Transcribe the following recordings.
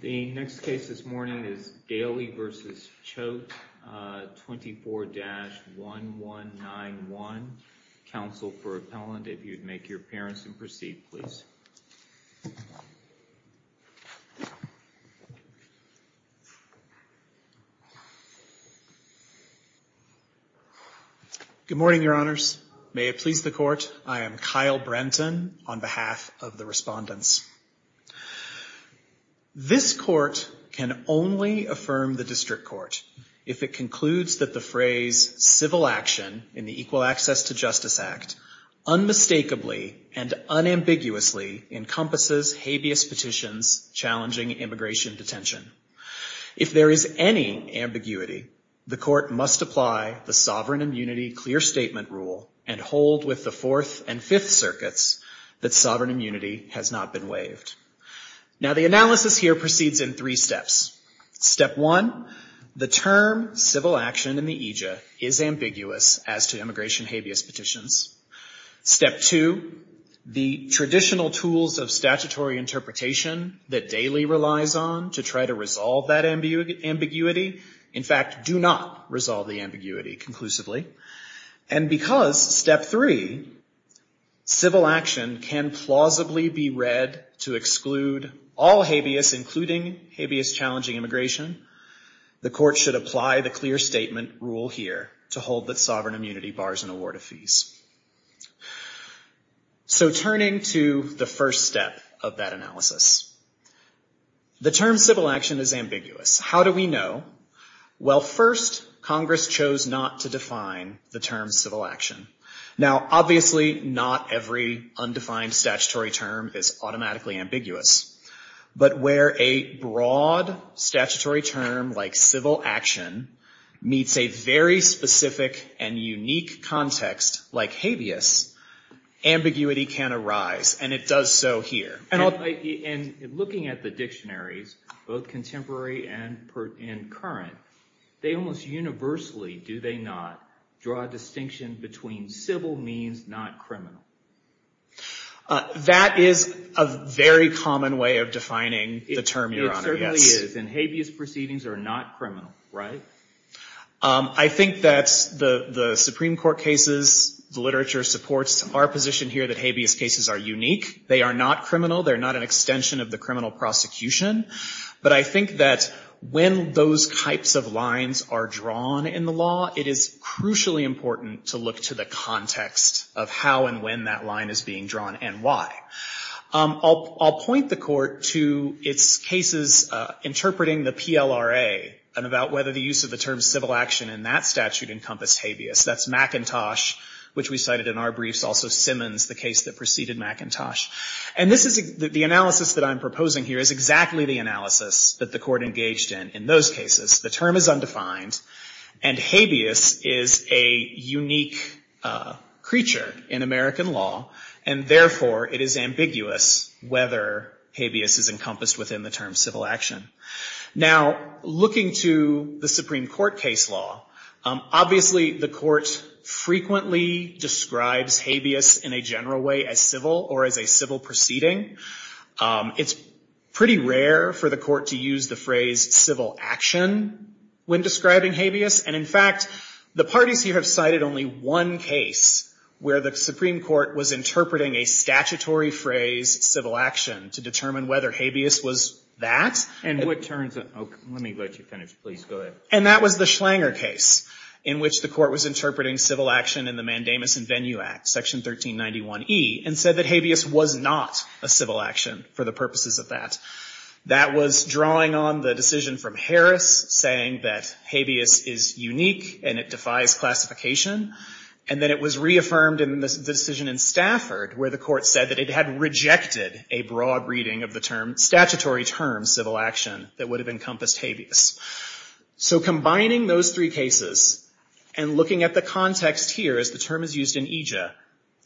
The next case this morning is Daley v. Choate, 24-1191. Counsel for appellant, if you'd make your appearance and proceed, please. Good morning, your honors. May it please the court. I am Kyle Brenton on behalf of the respondents. This court can only affirm the district court if it concludes that the phrase civil action in the Equal Access to Justice Act unmistakably and unambiguously encompasses habeas petitions challenging immigration detention. If there is any ambiguity, the court must apply the sovereign immunity clear statement rule and hold with the Fourth and Fifth Circuits that sovereign immunity has not been waived. Now, the analysis here proceeds in three steps. Step one, the term civil action in the aegis is ambiguous as to immigration habeas petitions. Step two, the traditional tools of statutory interpretation that Daley relies on to try to resolve that ambiguity, in fact, do not resolve the ambiguity conclusively. And because step three, civil action can plausibly be read to exclude all habeas, including habeas challenging immigration, the court should apply the clear statement rule here to hold that sovereign immunity bars an award of fees. So, turning to the first step of that analysis. The term civil action is ambiguous. How do we know? Well, first, Congress chose not to define the term civil action. Now, obviously, not every undefined statutory term is automatically ambiguous. But where a broad statutory term like civil action meets a very specific and unique context like habeas, ambiguity can arise, and it does so here. And looking at the dictionaries, both contemporary and current, they almost universally, do they not, draw a distinction between civil means, not criminal? That is a very common way of defining the term, Your Honor. It certainly is. And habeas proceedings are not criminal, right? I think that the Supreme Court cases, the literature supports our position here that habeas cases are unique. They are not criminal. They're not an extension of the criminal prosecution. But I think that when those types of lines are drawn in the law, it is crucially important to look to the context of how and when that line is being drawn and why. I'll point the Court to its cases interpreting the PLRA and about whether the use of the term civil action in that statute encompassed habeas. That's McIntosh, which we cited in our briefs, also Simmons, the case that preceded McIntosh. And this is, the analysis that I'm proposing here is exactly the analysis that the Court engaged in in those cases. The term is undefined and habeas is a unique creature in American law. And therefore, it is ambiguous whether habeas is encompassed within the term civil action. Now, looking to the Supreme Court case law, obviously the Court frequently describes habeas in a general way as civil or as a civil proceeding. It's pretty rare for the Court to use the phrase civil action when describing habeas. And in fact, the parties here have cited only one case where the Supreme Court was interpreting a statutory phrase civil action to determine whether habeas was that. And that was the Schlanger case in which the Court was interpreting civil action in the Mandamus and Venue Act, Section 1391E, and said that habeas was not a civil action for the purposes of that. That was drawing on the decision from Harris saying that habeas is unique and it defies classification, and then it was reaffirmed in the decision in Stafford where the Court said that it had rejected a broad reading of the term, statutory term, civil action that would have encompassed habeas. So combining those three cases and looking at the context here, as the term is used in EJIA,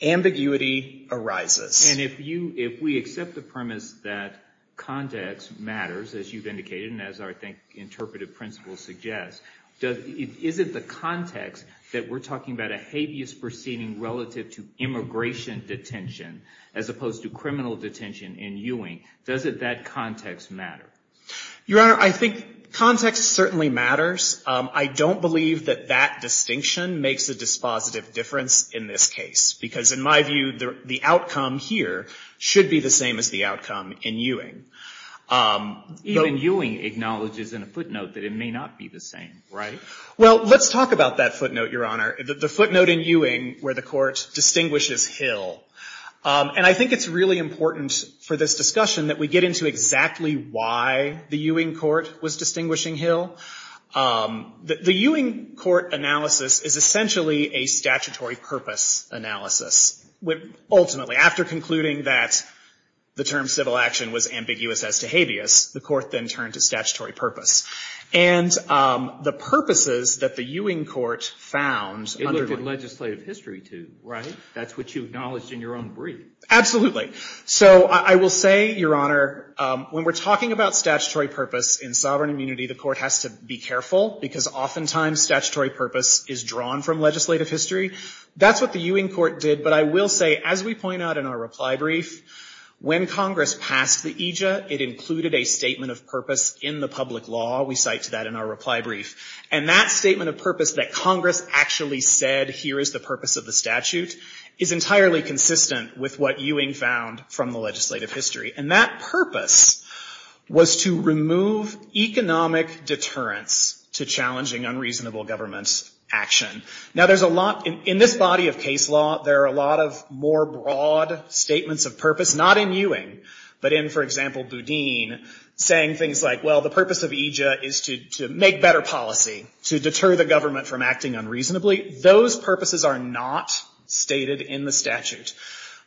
ambiguity arises. And if you, if we accept the premise that context matters, as you've indicated, and as I think interpretive principles suggest, is it the context that we're talking about a habeas proceeding relative to immigration detention as opposed to criminal detention in Ewing, does it, that context matter? Your Honor, I think context certainly matters. I don't believe that that distinction makes a dispositive difference in this case. Because in my view, the outcome here should be the same as the outcome in Ewing. Even Ewing acknowledges in a footnote that it may not be the same, right? Well, let's talk about that footnote, Your Honor. The footnote in Ewing where the Court distinguishes Hill. And I think it's really important for this discussion that we get into exactly why the Ewing Court was distinguishing Hill. The Ewing Court analysis is essentially a statutory purpose analysis. Ultimately, after concluding that the term civil action was ambiguous as to habeas, the Court then turned to statutory purpose. And the purposes that the Ewing Court found under the legislative history to, right? That's what you acknowledged in your own brief. Absolutely. So I will say, Your Honor, when we're talking about statutory purpose in sovereign immunity, the Court has to be careful. Because oftentimes, statutory purpose is drawn from legislative history. That's what the Ewing Court did. But I will say, as we point out in our reply brief, when Congress passed the EJA, it included a statement of purpose in the public law. We cite to that in our reply brief. And that statement of purpose that Congress actually said, here is the purpose of the statute, is entirely consistent with what Ewing found from the legislative history. And that purpose was to remove economic deterrence to challenging unreasonable government action. Now, in this body of case law, there are a lot of more broad statements of purpose, not in Ewing, but in, for example, Boudin, saying things like, well, the purpose of EJA is to make better policy, to deter the government from acting unreasonably. Those purposes are not stated in the statute.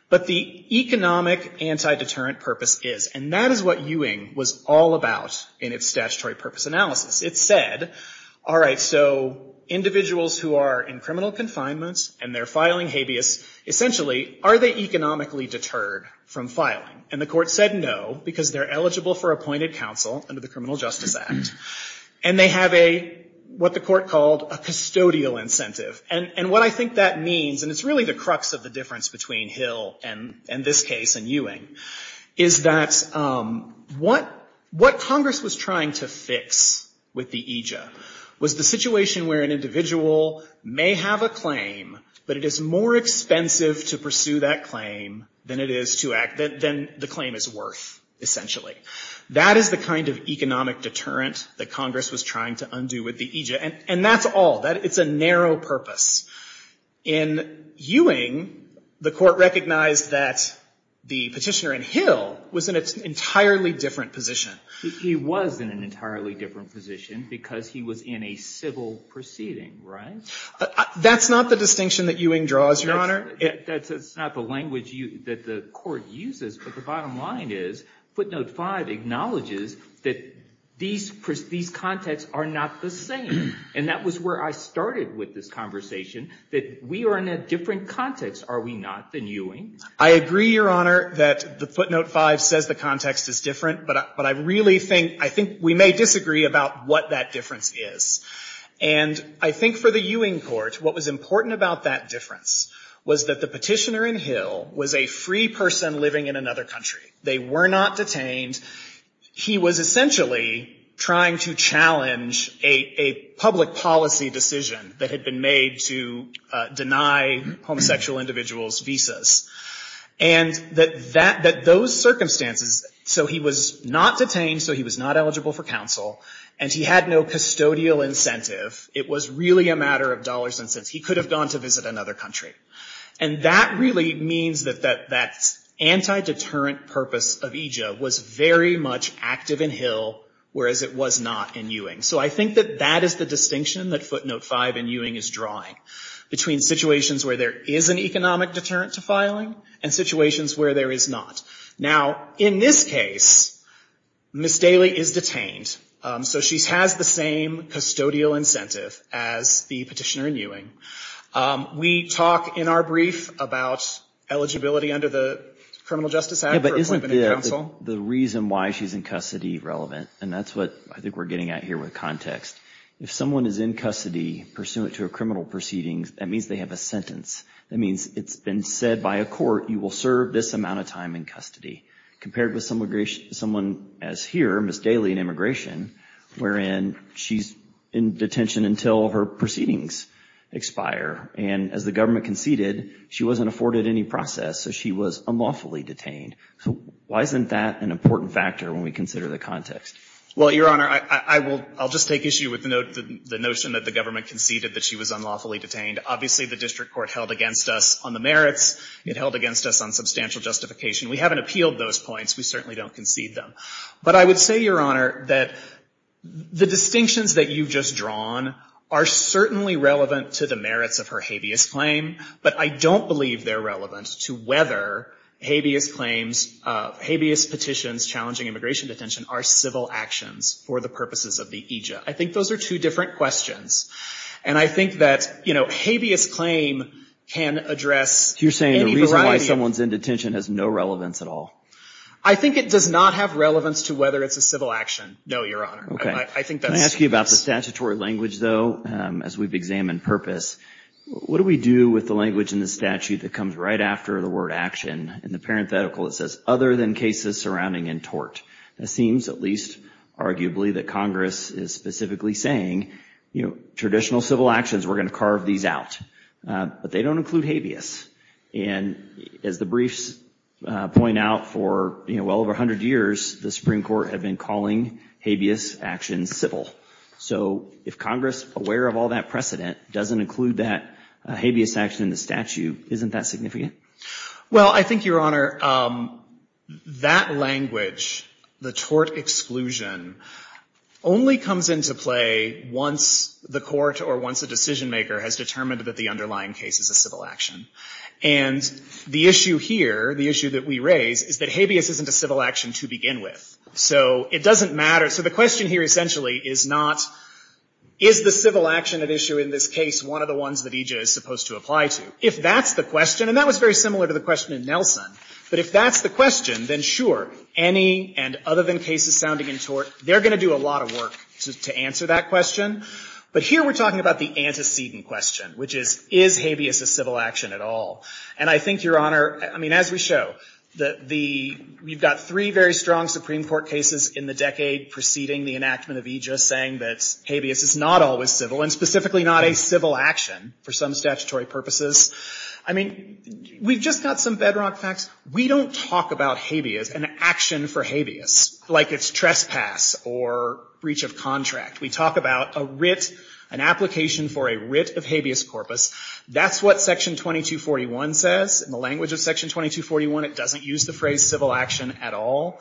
But the economic anti-deterrent purpose is. And that is what Ewing was all about in its statutory purpose analysis. It said, all right, so individuals who are in criminal confinement and they're filing habeas, essentially, are they economically deterred from filing? And the Court said no, because they're eligible for appointed counsel under the Criminal Justice Act. And they have a, what the Court called, a custodial incentive. And what I think that means, and it's really the crux of the difference between Hill and this case and Ewing, is that what Congress was trying to fix with the EJA was the situation where an individual may have a claim, but it is more expensive to pursue that claim than the claim is worth, essentially. That is the kind of economic deterrent that Congress was trying to undo with the EJA. And that's all. It's a narrow purpose. In Ewing, the Court recognized that the petitioner in Hill was in an entirely different position. He was in an entirely different position, because he was in a civil proceeding, right? That's not the distinction that Ewing draws, Your Honor. That's not the language that the Court uses. But the bottom line is, Footnote 5 acknowledges that these contexts are not the same. And that was where I started with this conversation, that we are in a different context, are we not, than Ewing? I agree, Your Honor, that the Footnote 5 says the context is different. But I really think, I think we may disagree about what that difference is. And I think for the Ewing Court, what was important about that difference was that the petitioner in Hill was a free person living in another country. They were not detained. He was essentially trying to challenge a public policy decision that had been made to deny homosexual individuals visas. And that those circumstances, so he was not detained, so he was not eligible for counsel, and he had no custodial incentive. It was really a matter of dollars and cents. He could have gone to visit another country. And that really means that that anti-deterrent purpose of EJA was very much active in Hill, whereas it was not in Ewing. So I think that that is the distinction that Footnote 5 and Ewing is drawing, between situations where there is an economic deterrent to filing and situations where there is not. Now, in this case, Ms. Daly is detained. So she has the same custodial incentive as the petitioner in Ewing. We talk in our brief about eligibility under the Criminal Justice Act for appointment of counsel. The reason why she's in custody relevant, and that's what I think we're getting at here with context. If someone is in custody pursuant to a criminal proceedings, that means they have a sentence. That means it's been said by a court, you will serve this amount of time in custody, compared with someone as here, Ms. Daly in immigration, wherein she's in detention until her proceedings. Expire. And as the government conceded, she wasn't afforded any process, so she was unlawfully detained. Why isn't that an important factor when we consider the context? Well, Your Honor, I'll just take issue with the notion that the government conceded that she was unlawfully detained. Obviously, the district court held against us on the merits. It held against us on substantial justification. We haven't appealed those points. We certainly don't concede them. But I would say, Your Honor, that the distinctions that you've just drawn are certainly relevant to the merits of her habeas claim, but I don't believe they're relevant to whether habeas claims, habeas petitions challenging immigration detention are civil actions for the purposes of the EJIA. I think those are two different questions. And I think that habeas claim can address any variety of- You're saying the reason why someone's in detention has no relevance at all? I think it does not have relevance to whether it's a civil action, no, Your Honor. OK. Can I ask you about the statutory language, though, as we've examined purpose? What do we do with the language in the statute that comes right after the word action? In the parenthetical, it says, other than cases surrounding in tort. It seems, at least arguably, that Congress is specifically saying, traditional civil actions, we're going to carve these out. But they don't include habeas. And as the briefs point out, for well over 100 years, the Supreme Court have been calling habeas actions civil. So if Congress, aware of all that precedent, doesn't include that habeas action in the statute, isn't that significant? Well, I think, Your Honor, that language, the tort exclusion, only comes into play once the court or once a decision maker has determined that the underlying case is a civil action. And the issue here, the issue that we raise, is that habeas isn't a civil action to begin with. So it doesn't matter. So the question here, essentially, is not, is the civil action at issue in this case one of the ones that EJ is supposed to apply to? If that's the question, and that was very similar to the question in Nelson, but if that's the question, then sure, any and other than cases sounding in tort, they're going to do a lot of work to answer that question. But here we're talking about the antecedent question, which is, is habeas a civil action at all? And I think, Your Honor, I mean, as we show, we've got three very strong Supreme Court cases in the decade preceding the enactment of EJ saying that habeas is not always civil, and specifically not a civil action for some statutory purposes. I mean, we've just got some bedrock facts. We don't talk about habeas, an action for habeas, like it's trespass or breach of contract. We talk about a writ, an application for a writ of habeas corpus. That's what Section 2241 says. In the language of Section 2241, it doesn't use the phrase civil action at all.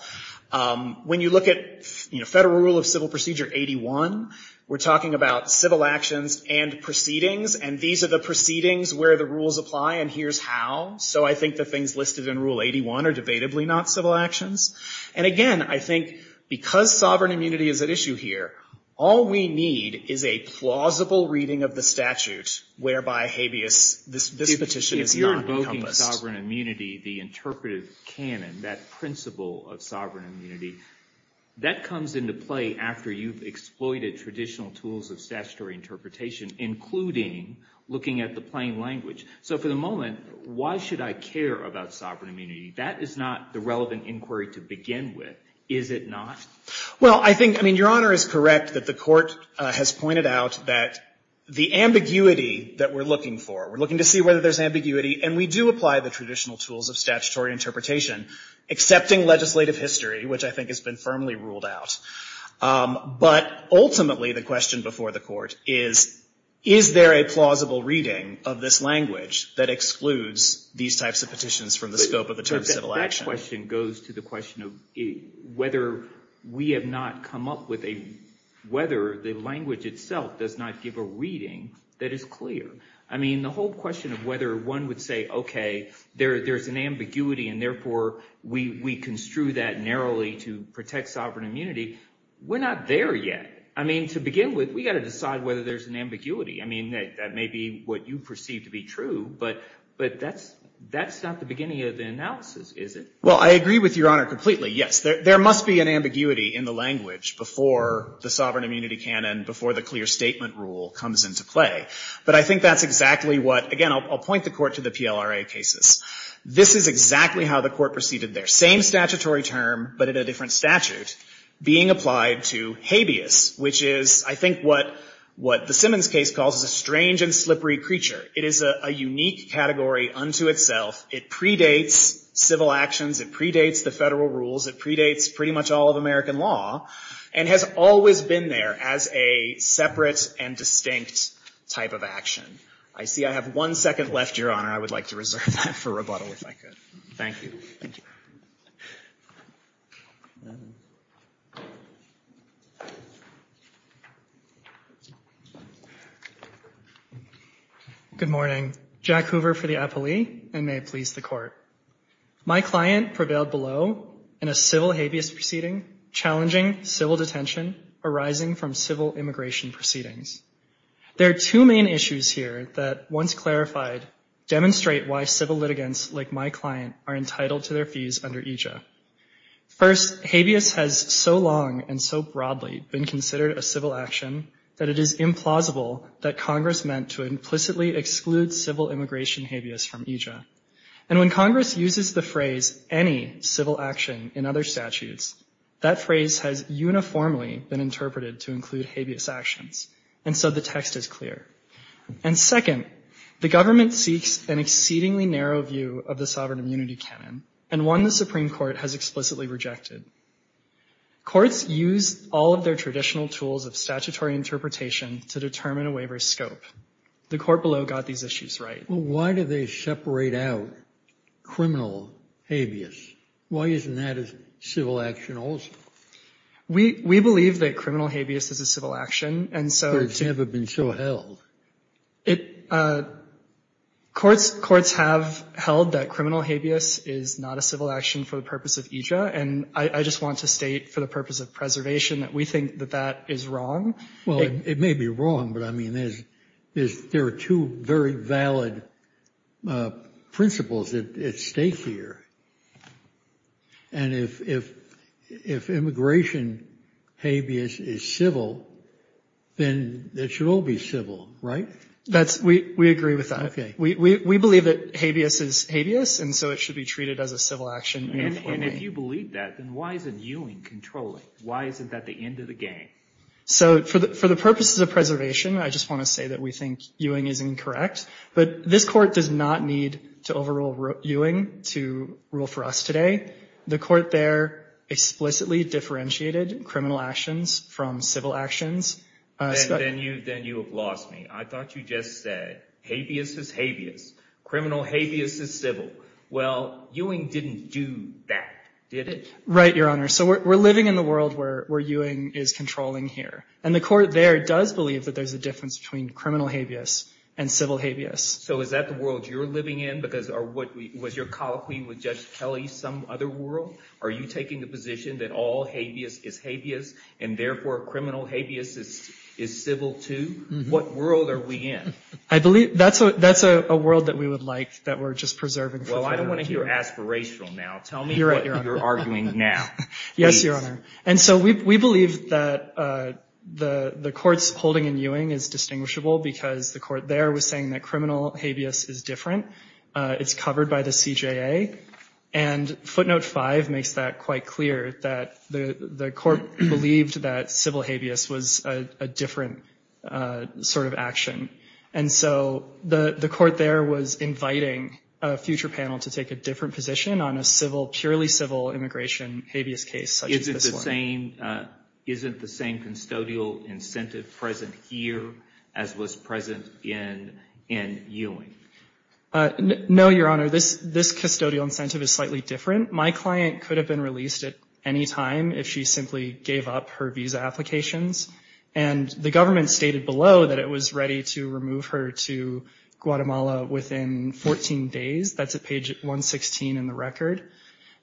When you look at Federal Rule of Civil Procedure 81, we're talking about civil actions and proceedings. And these are the proceedings where the rules apply, and here's how. So I think the things listed in Rule 81 are debatably not civil actions. And again, I think because sovereign immunity is at issue here, all we need is a plausible reading of the statute whereby habeas, this petition is not encompassed. Promoting sovereign immunity, the interpretive canon, that principle of sovereign immunity, that comes into play after you've exploited traditional tools of statutory interpretation, including looking at the plain language. So for the moment, why should I care about sovereign immunity? That is not the relevant inquiry to begin with, is it not? Well, I think, I mean, Your Honor is correct that the court has pointed out that the ambiguity that we're looking for, we're looking to see whether there's ambiguity, and we do apply the traditional tools of statutory interpretation, excepting legislative history, which I think has been firmly ruled out. But ultimately, the question before the court is, is there a plausible reading of this language that excludes these types of petitions from the scope of the term civil action? That question goes to the question of whether we have not come up with a, whether the language itself does not give a reading that is clear. I mean, the whole question of whether one would say, OK, there's an ambiguity, and therefore, we construe that narrowly to protect sovereign immunity, we're not there yet. I mean, to begin with, we've got to decide whether there's an ambiguity. I mean, that may be what you perceive to be true, but that's not the beginning of the analysis, is it? Well, I agree with Your Honor completely, yes. There must be an ambiguity in the language before the sovereign immunity canon, before the clear statement rule comes into play. But I think that's exactly what, again, I'll point the court to the PLRA cases. This is exactly how the court proceeded there. Same statutory term, but in a different statute, being applied to habeas, which is, I think, what the Simmons case calls a strange and slippery creature. It is a unique category unto itself. It predates civil actions. It predates the federal rules. It predates pretty much all of American law, and has always been there as a separate and distinct type of action. I see I have one second left, Your Honor. I would like to reserve that for rebuttal, if I could. Thank you. Thank you. Good morning. Jack Hoover for the appellee, and may it please the court. My client prevailed below in a civil habeas proceeding, challenging civil detention arising from civil immigration proceedings. There are two main issues here that, once clarified, demonstrate why civil litigants like my client are entitled to their fees under EJIA. First, habeas has so long and so broadly been considered a civil action that it is implausible that Congress meant to implicitly exclude civil immigration habeas from EJIA. And when Congress uses the phrase, any civil action in other statutes, that phrase has uniformly been interpreted to include habeas actions. And so the text is clear. And second, the government seeks an exceedingly narrow view of the sovereign immunity canon, and one the Supreme Court has explicitly rejected. Courts use all of their traditional tools of statutory interpretation to determine a waiver's scope. The court below got these issues right. Well, why do they separate out criminal habeas? Why isn't that a civil action also? We believe that criminal habeas is a civil action, but it's never been so held. Courts have held that criminal habeas is not a civil action for the purpose of EJIA, and I just want to state, for the purpose of preservation, that we think that that is wrong. Well, it may be wrong, but I mean, there are two very valid principles at stake here. And if immigration habeas is civil, then it should all be civil, right? That's, we agree with that. We believe that habeas is habeas, and so it should be treated as a civil action uniformly. And if you believe that, then why isn't Ewing controlling? Why isn't that the end of the game? So for the purposes of preservation, I just want to say that we think Ewing is incorrect, but this court does not need to overrule Ewing to rule for us today. The court there explicitly differentiated criminal actions from civil actions. Then you have lost me. I thought you just said habeas is habeas, criminal habeas is civil. Well, Ewing didn't do that, did it? Right, Your Honor. So we're living in the world where Ewing is controlling here and the court there does believe that there's a difference between criminal habeas and civil habeas. So is that the world you're living in? Because was your colloquy with Judge Kelly some other world? Are you taking the position that all habeas is habeas and therefore criminal habeas is civil too? What world are we in? I believe that's a world that we would like that we're just preserving for future. Well, I don't want to hear aspirational now. Tell me what you're arguing now. Yes, Your Honor. And so we believe that the courts holding in Ewing is distinguishable because the court there was saying that criminal habeas is different. It's covered by the CJA. And footnote five makes that quite clear that the court believed that civil habeas was a different sort of action. And so the court there was inviting a future panel to take a different position on a purely civil immigration habeas case such as this one. Isn't the same custodial incentive present here as was present in Ewing? No, Your Honor. This custodial incentive is slightly different. My client could have been released at any time if she simply gave up her visa applications. And the government stated below that it was ready to remove her to Guatemala within 14 days. That's at page 116 in the record.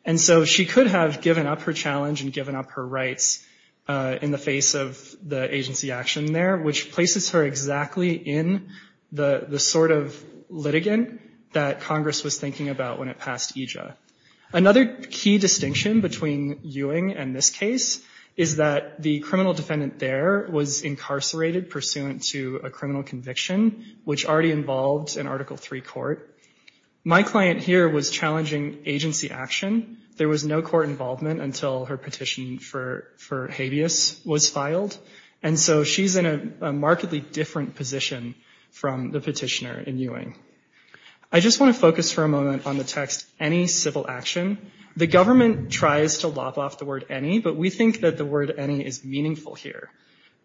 And so she could have given up her challenge and given up her rights in the face of the agency action there, which places her exactly in the sort of litigant that Congress was thinking about when it passed EJA. Another key distinction between Ewing and this case is that the criminal defendant there was incarcerated pursuant to a criminal conviction, which already involved an Article III court. My client here was challenging agency action. There was no court involvement until her petition for habeas was filed. And so she's in a markedly different position from the petitioner in Ewing. I just want to focus for a moment on the text, any civil action. The government tries to lop off the word any, but we think that the word any is meaningful here.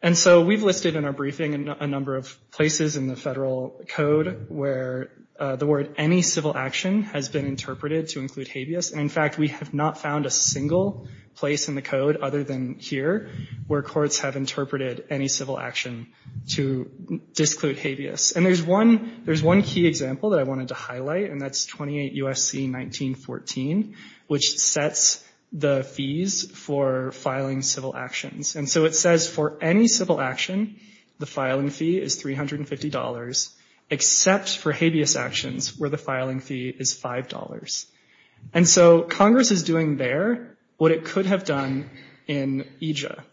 And so we've listed in our briefing a number of places in the federal code where the word any civil action has been interpreted to include habeas. And in fact, we have not found a single place in the code other than here where courts have interpreted any civil action to disclude habeas. And there's one key example that I wanted to highlight, and that's 28 U.S.C. 1914, which sets the fees for filing civil actions. And so it says for any civil action, the filing fee is $350, except for habeas actions where the filing fee is $5. And so Congress is doing there what it could have done in EJA.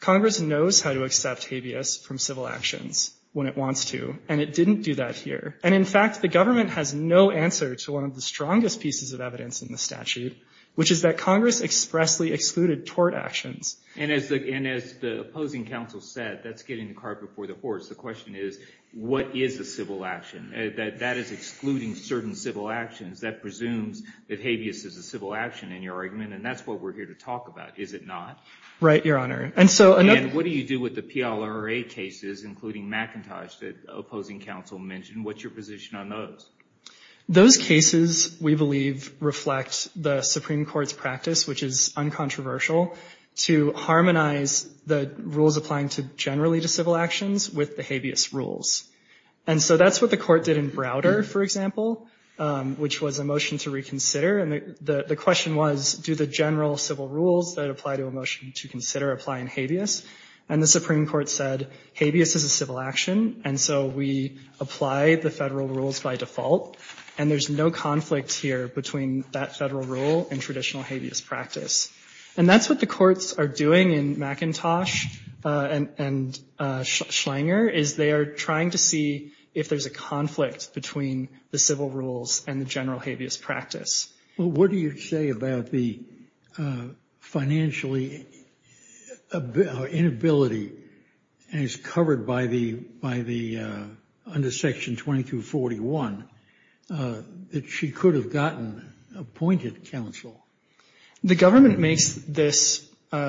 Congress knows how to accept habeas from civil actions when it wants to, and it didn't do that here. And in fact, the government has no answer to one of the strongest pieces of evidence in the statute, which is that Congress expressly excluded tort actions. And as the opposing counsel said, that's getting the cart before the horse. The question is, what is a civil action? That is excluding certain civil actions. That presumes that habeas is a civil action in your argument, and that's what we're here to talk about. Is it not? Right, Your Honor. And so another- And what do you do with the PLRA cases, including McIntosh that opposing counsel mentioned? What's your position on those? Those cases, we believe, reflect the Supreme Court's practice, which is uncontroversial, to harmonize the rules applying generally to civil actions with the habeas rules. And so that's what the court did in Browder, for example, which was a motion to reconsider. And the question was, do the general civil rules that apply to a motion to consider apply in habeas? And the Supreme Court said, habeas is a civil action, and so we apply the federal rules by default. And there's no conflict here between that federal rule and traditional habeas practice. And that's what the courts are doing in McIntosh and Schleinger, is they are trying to see if there's a conflict between the civil rules and the general habeas practice. Well, what do you say about the financially inability as covered by the, under section 2241, that she could have gotten appointed counsel? The government makes this,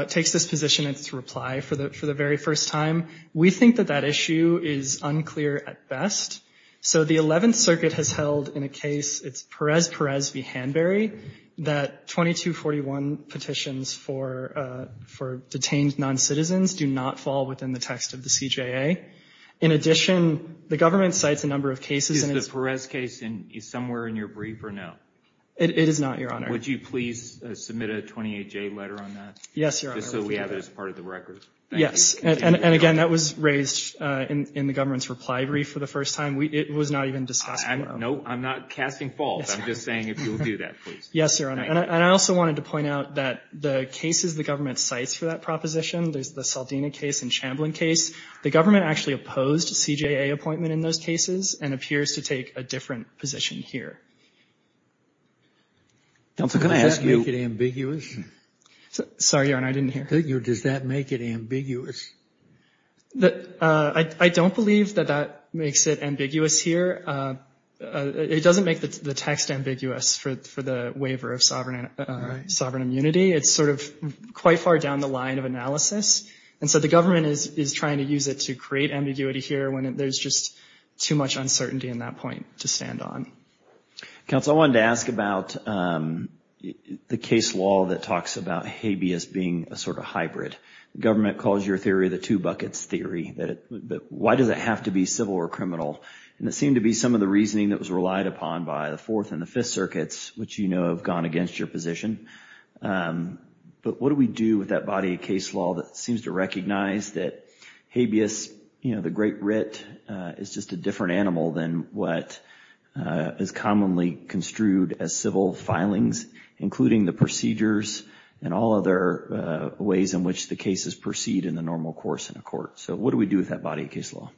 takes this position in its reply for the very first time. We think that that issue is unclear at best. So the 11th Circuit has held in a case, it's Perez-Perez v. Hanbury, that 2241 petitions for detained non-citizens do not fall within the text of the CJA. In addition, the government cites a number of cases. Is the Perez case somewhere in your brief or no? It is not, Your Honor. Would you please submit a 28-J letter on that? Yes, Your Honor. Just so we have it as part of the record. Yes, and again, that was raised in the government's reply brief for the first time. It was not even discussed. No, I'm not casting false. I'm just saying if you'll do that, please. Yes, Your Honor, and I also wanted to point out that the cases the government cites for that proposition, there's the Saldina case and Chamberlain case, the government actually opposed a CJA appointment in those cases and appears to take a different position here. Counsel, can I ask you- Does that make it ambiguous? Sorry, Your Honor, I didn't hear. Does that make it ambiguous? I don't believe that that makes it ambiguous here. It doesn't make the text ambiguous for the waiver of sovereign immunity. It's sort of quite far down the line of analysis. And so the government is trying to use it to create ambiguity here when there's just too much uncertainty in that point to stand on. Counsel, I wanted to ask about the case law that talks about habeas being a sort of hybrid. The government calls your theory the two buckets theory. Why does it have to be civil or criminal? And it seemed to be some of the reasoning that was relied upon by the Fourth and the Fifth Circuits, which you know have gone against your position. But what do we do with that body of case law that seems to recognize that habeas, the Great Writ, is just a different animal than what is commonly construed as civil filings, including the procedures and all other ways in which the cases proceed in the normal course in a court. So what do we do with that body of case law?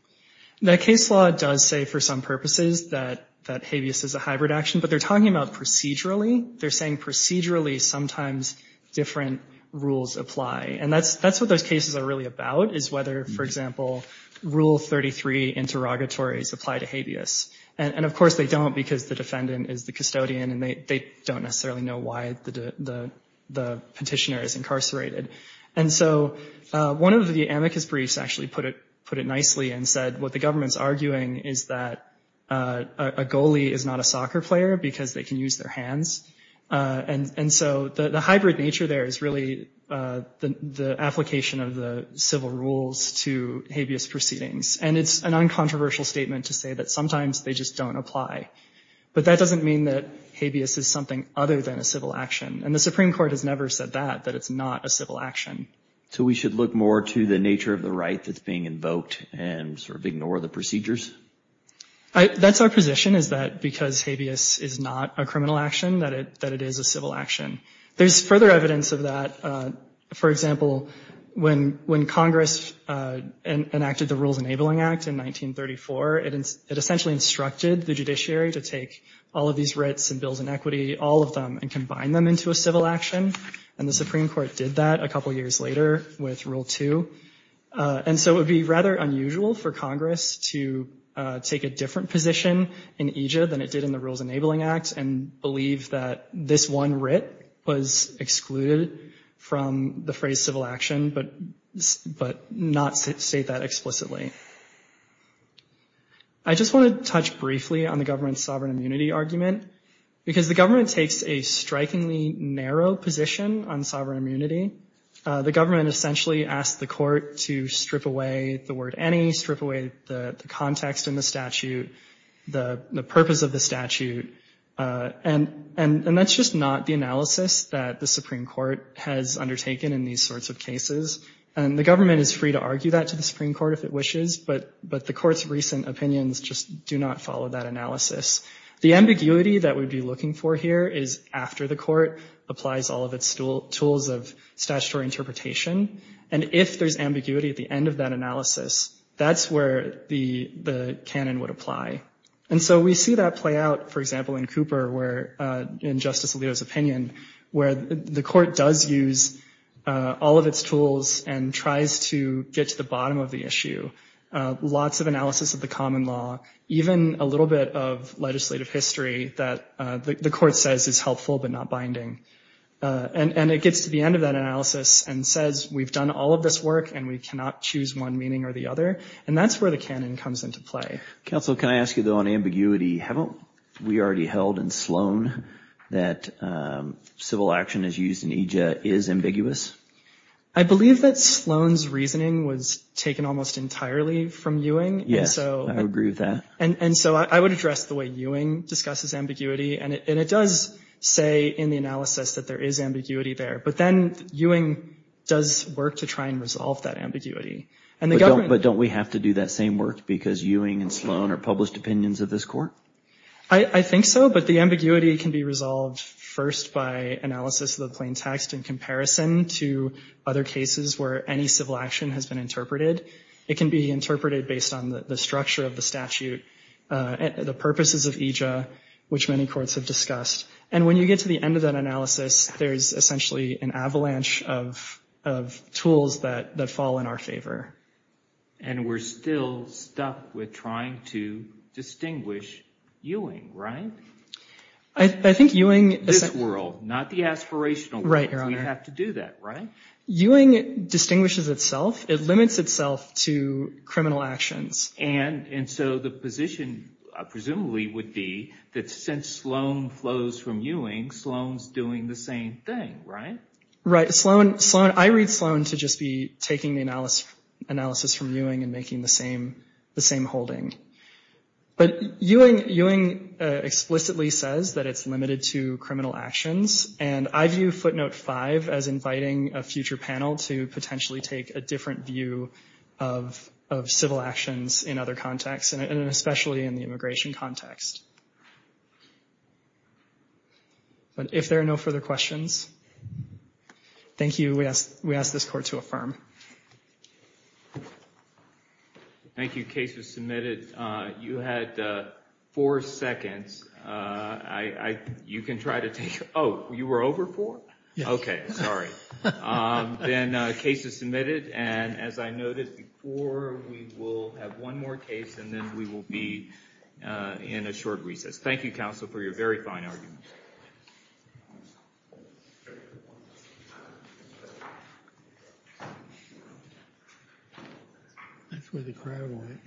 The case law does say for some purposes that habeas is a hybrid action, but they're talking about procedurally. They're saying procedurally sometimes different rules apply. And that's what those cases are really about is whether, for example, Rule 33 interrogatories apply to habeas. And of course they don't because the defendant is the custodian and they don't necessarily know why the petitioner is incarcerated. And so one of the amicus briefs actually put it nicely and said what the government's arguing is that a goalie is not a soccer player because they can use their hands. And so the hybrid nature there is really the application of the civil rules to habeas proceedings. And it's an uncontroversial statement to say that sometimes they just don't apply. But that doesn't mean that habeas is something other than a civil action. And the Supreme Court has never said that, that it's not a civil action. So we should look more to the nature of the right that's being invoked and sort of ignore the procedures? That's our position is that because habeas is not a criminal action, that it is a civil action. There's further evidence of that. For example, when Congress enacted the Rules Enabling Act in 1934, it essentially instructed the judiciary to take all of these writs and bills in equity, all of them, and combine them into a civil action. And the Supreme Court did that a couple years later with Rule Two. And so it would be rather unusual for Congress to take a different position in EJA than it did in the Rules Enabling Act and believe that this one writ was excluded from the phrase civil action, but not state that explicitly. I just want to touch briefly on the government's sovereign immunity argument. Because the government takes a strikingly narrow position on sovereign immunity. The government essentially asked the court to strip away the word any, strip away the context in the statute, the purpose of the statute. And that's just not the analysis that the Supreme Court has undertaken in these sorts of cases. And the government is free to argue that to the Supreme Court if it wishes, but the court's recent opinions just do not follow that analysis. The ambiguity that we'd be looking for here is after the court applies all of its tools of statutory interpretation. And if there's ambiguity at the end of that analysis, that's where the canon would apply. And so we see that play out, for example, in Cooper where, in Justice Alito's opinion, where the court does use all of its tools and tries to get to the bottom of the issue. Lots of analysis of the common law, even a little bit of legislative history that the court says is helpful but not binding. And it gets to the end of that analysis and says we've done all of this work and we cannot choose one meaning or the other. And that's where the canon comes into play. Counsel, can I ask you though on ambiguity, haven't we already held in Sloan that civil action as used in EJIA is ambiguous? I believe that Sloan's reasoning was taken almost entirely from Ewing. Yes, I agree with that. And so I would address the way Ewing discusses ambiguity. And it does say in the analysis that there is ambiguity there. But then Ewing does work to try and resolve that ambiguity. But don't we have to do that same work because Ewing and Sloan are published opinions of this court? I think so, but the ambiguity can be resolved first by analysis of the plain text in comparison to other cases where any civil action has been interpreted. It can be interpreted based on the structure of the statute, the purposes of EJIA, which many courts have discussed. And when you get to the end of that analysis, there's essentially an avalanche of tools that fall in our favor. And we're still stuck with trying to distinguish Ewing, right? I think Ewing- This world, not the aspirational world. Right, Your Honor. We have to do that, right? Ewing distinguishes itself. It limits itself to criminal actions. And so the position presumably would be that since Sloan flows from Ewing, Sloan's doing the same thing, right? Right, Sloan- I read Sloan to just be taking the analysis from Ewing and making the same holding. But Ewing explicitly says that it's limited to criminal actions. And I view footnote five as inviting a future panel to potentially take a different view of civil actions in other contexts, and especially in the immigration context. But if there are no further questions, thank you. We ask this court to affirm. Thank you. Case was submitted. You had four seconds. You can try to take- Oh, you were over four? Yes. Okay, sorry. Then case is submitted. And as I noted before, we will have one more case and then we will be in a short recess. Thank you, counsel, for your very fine argument. That's where the crowd went.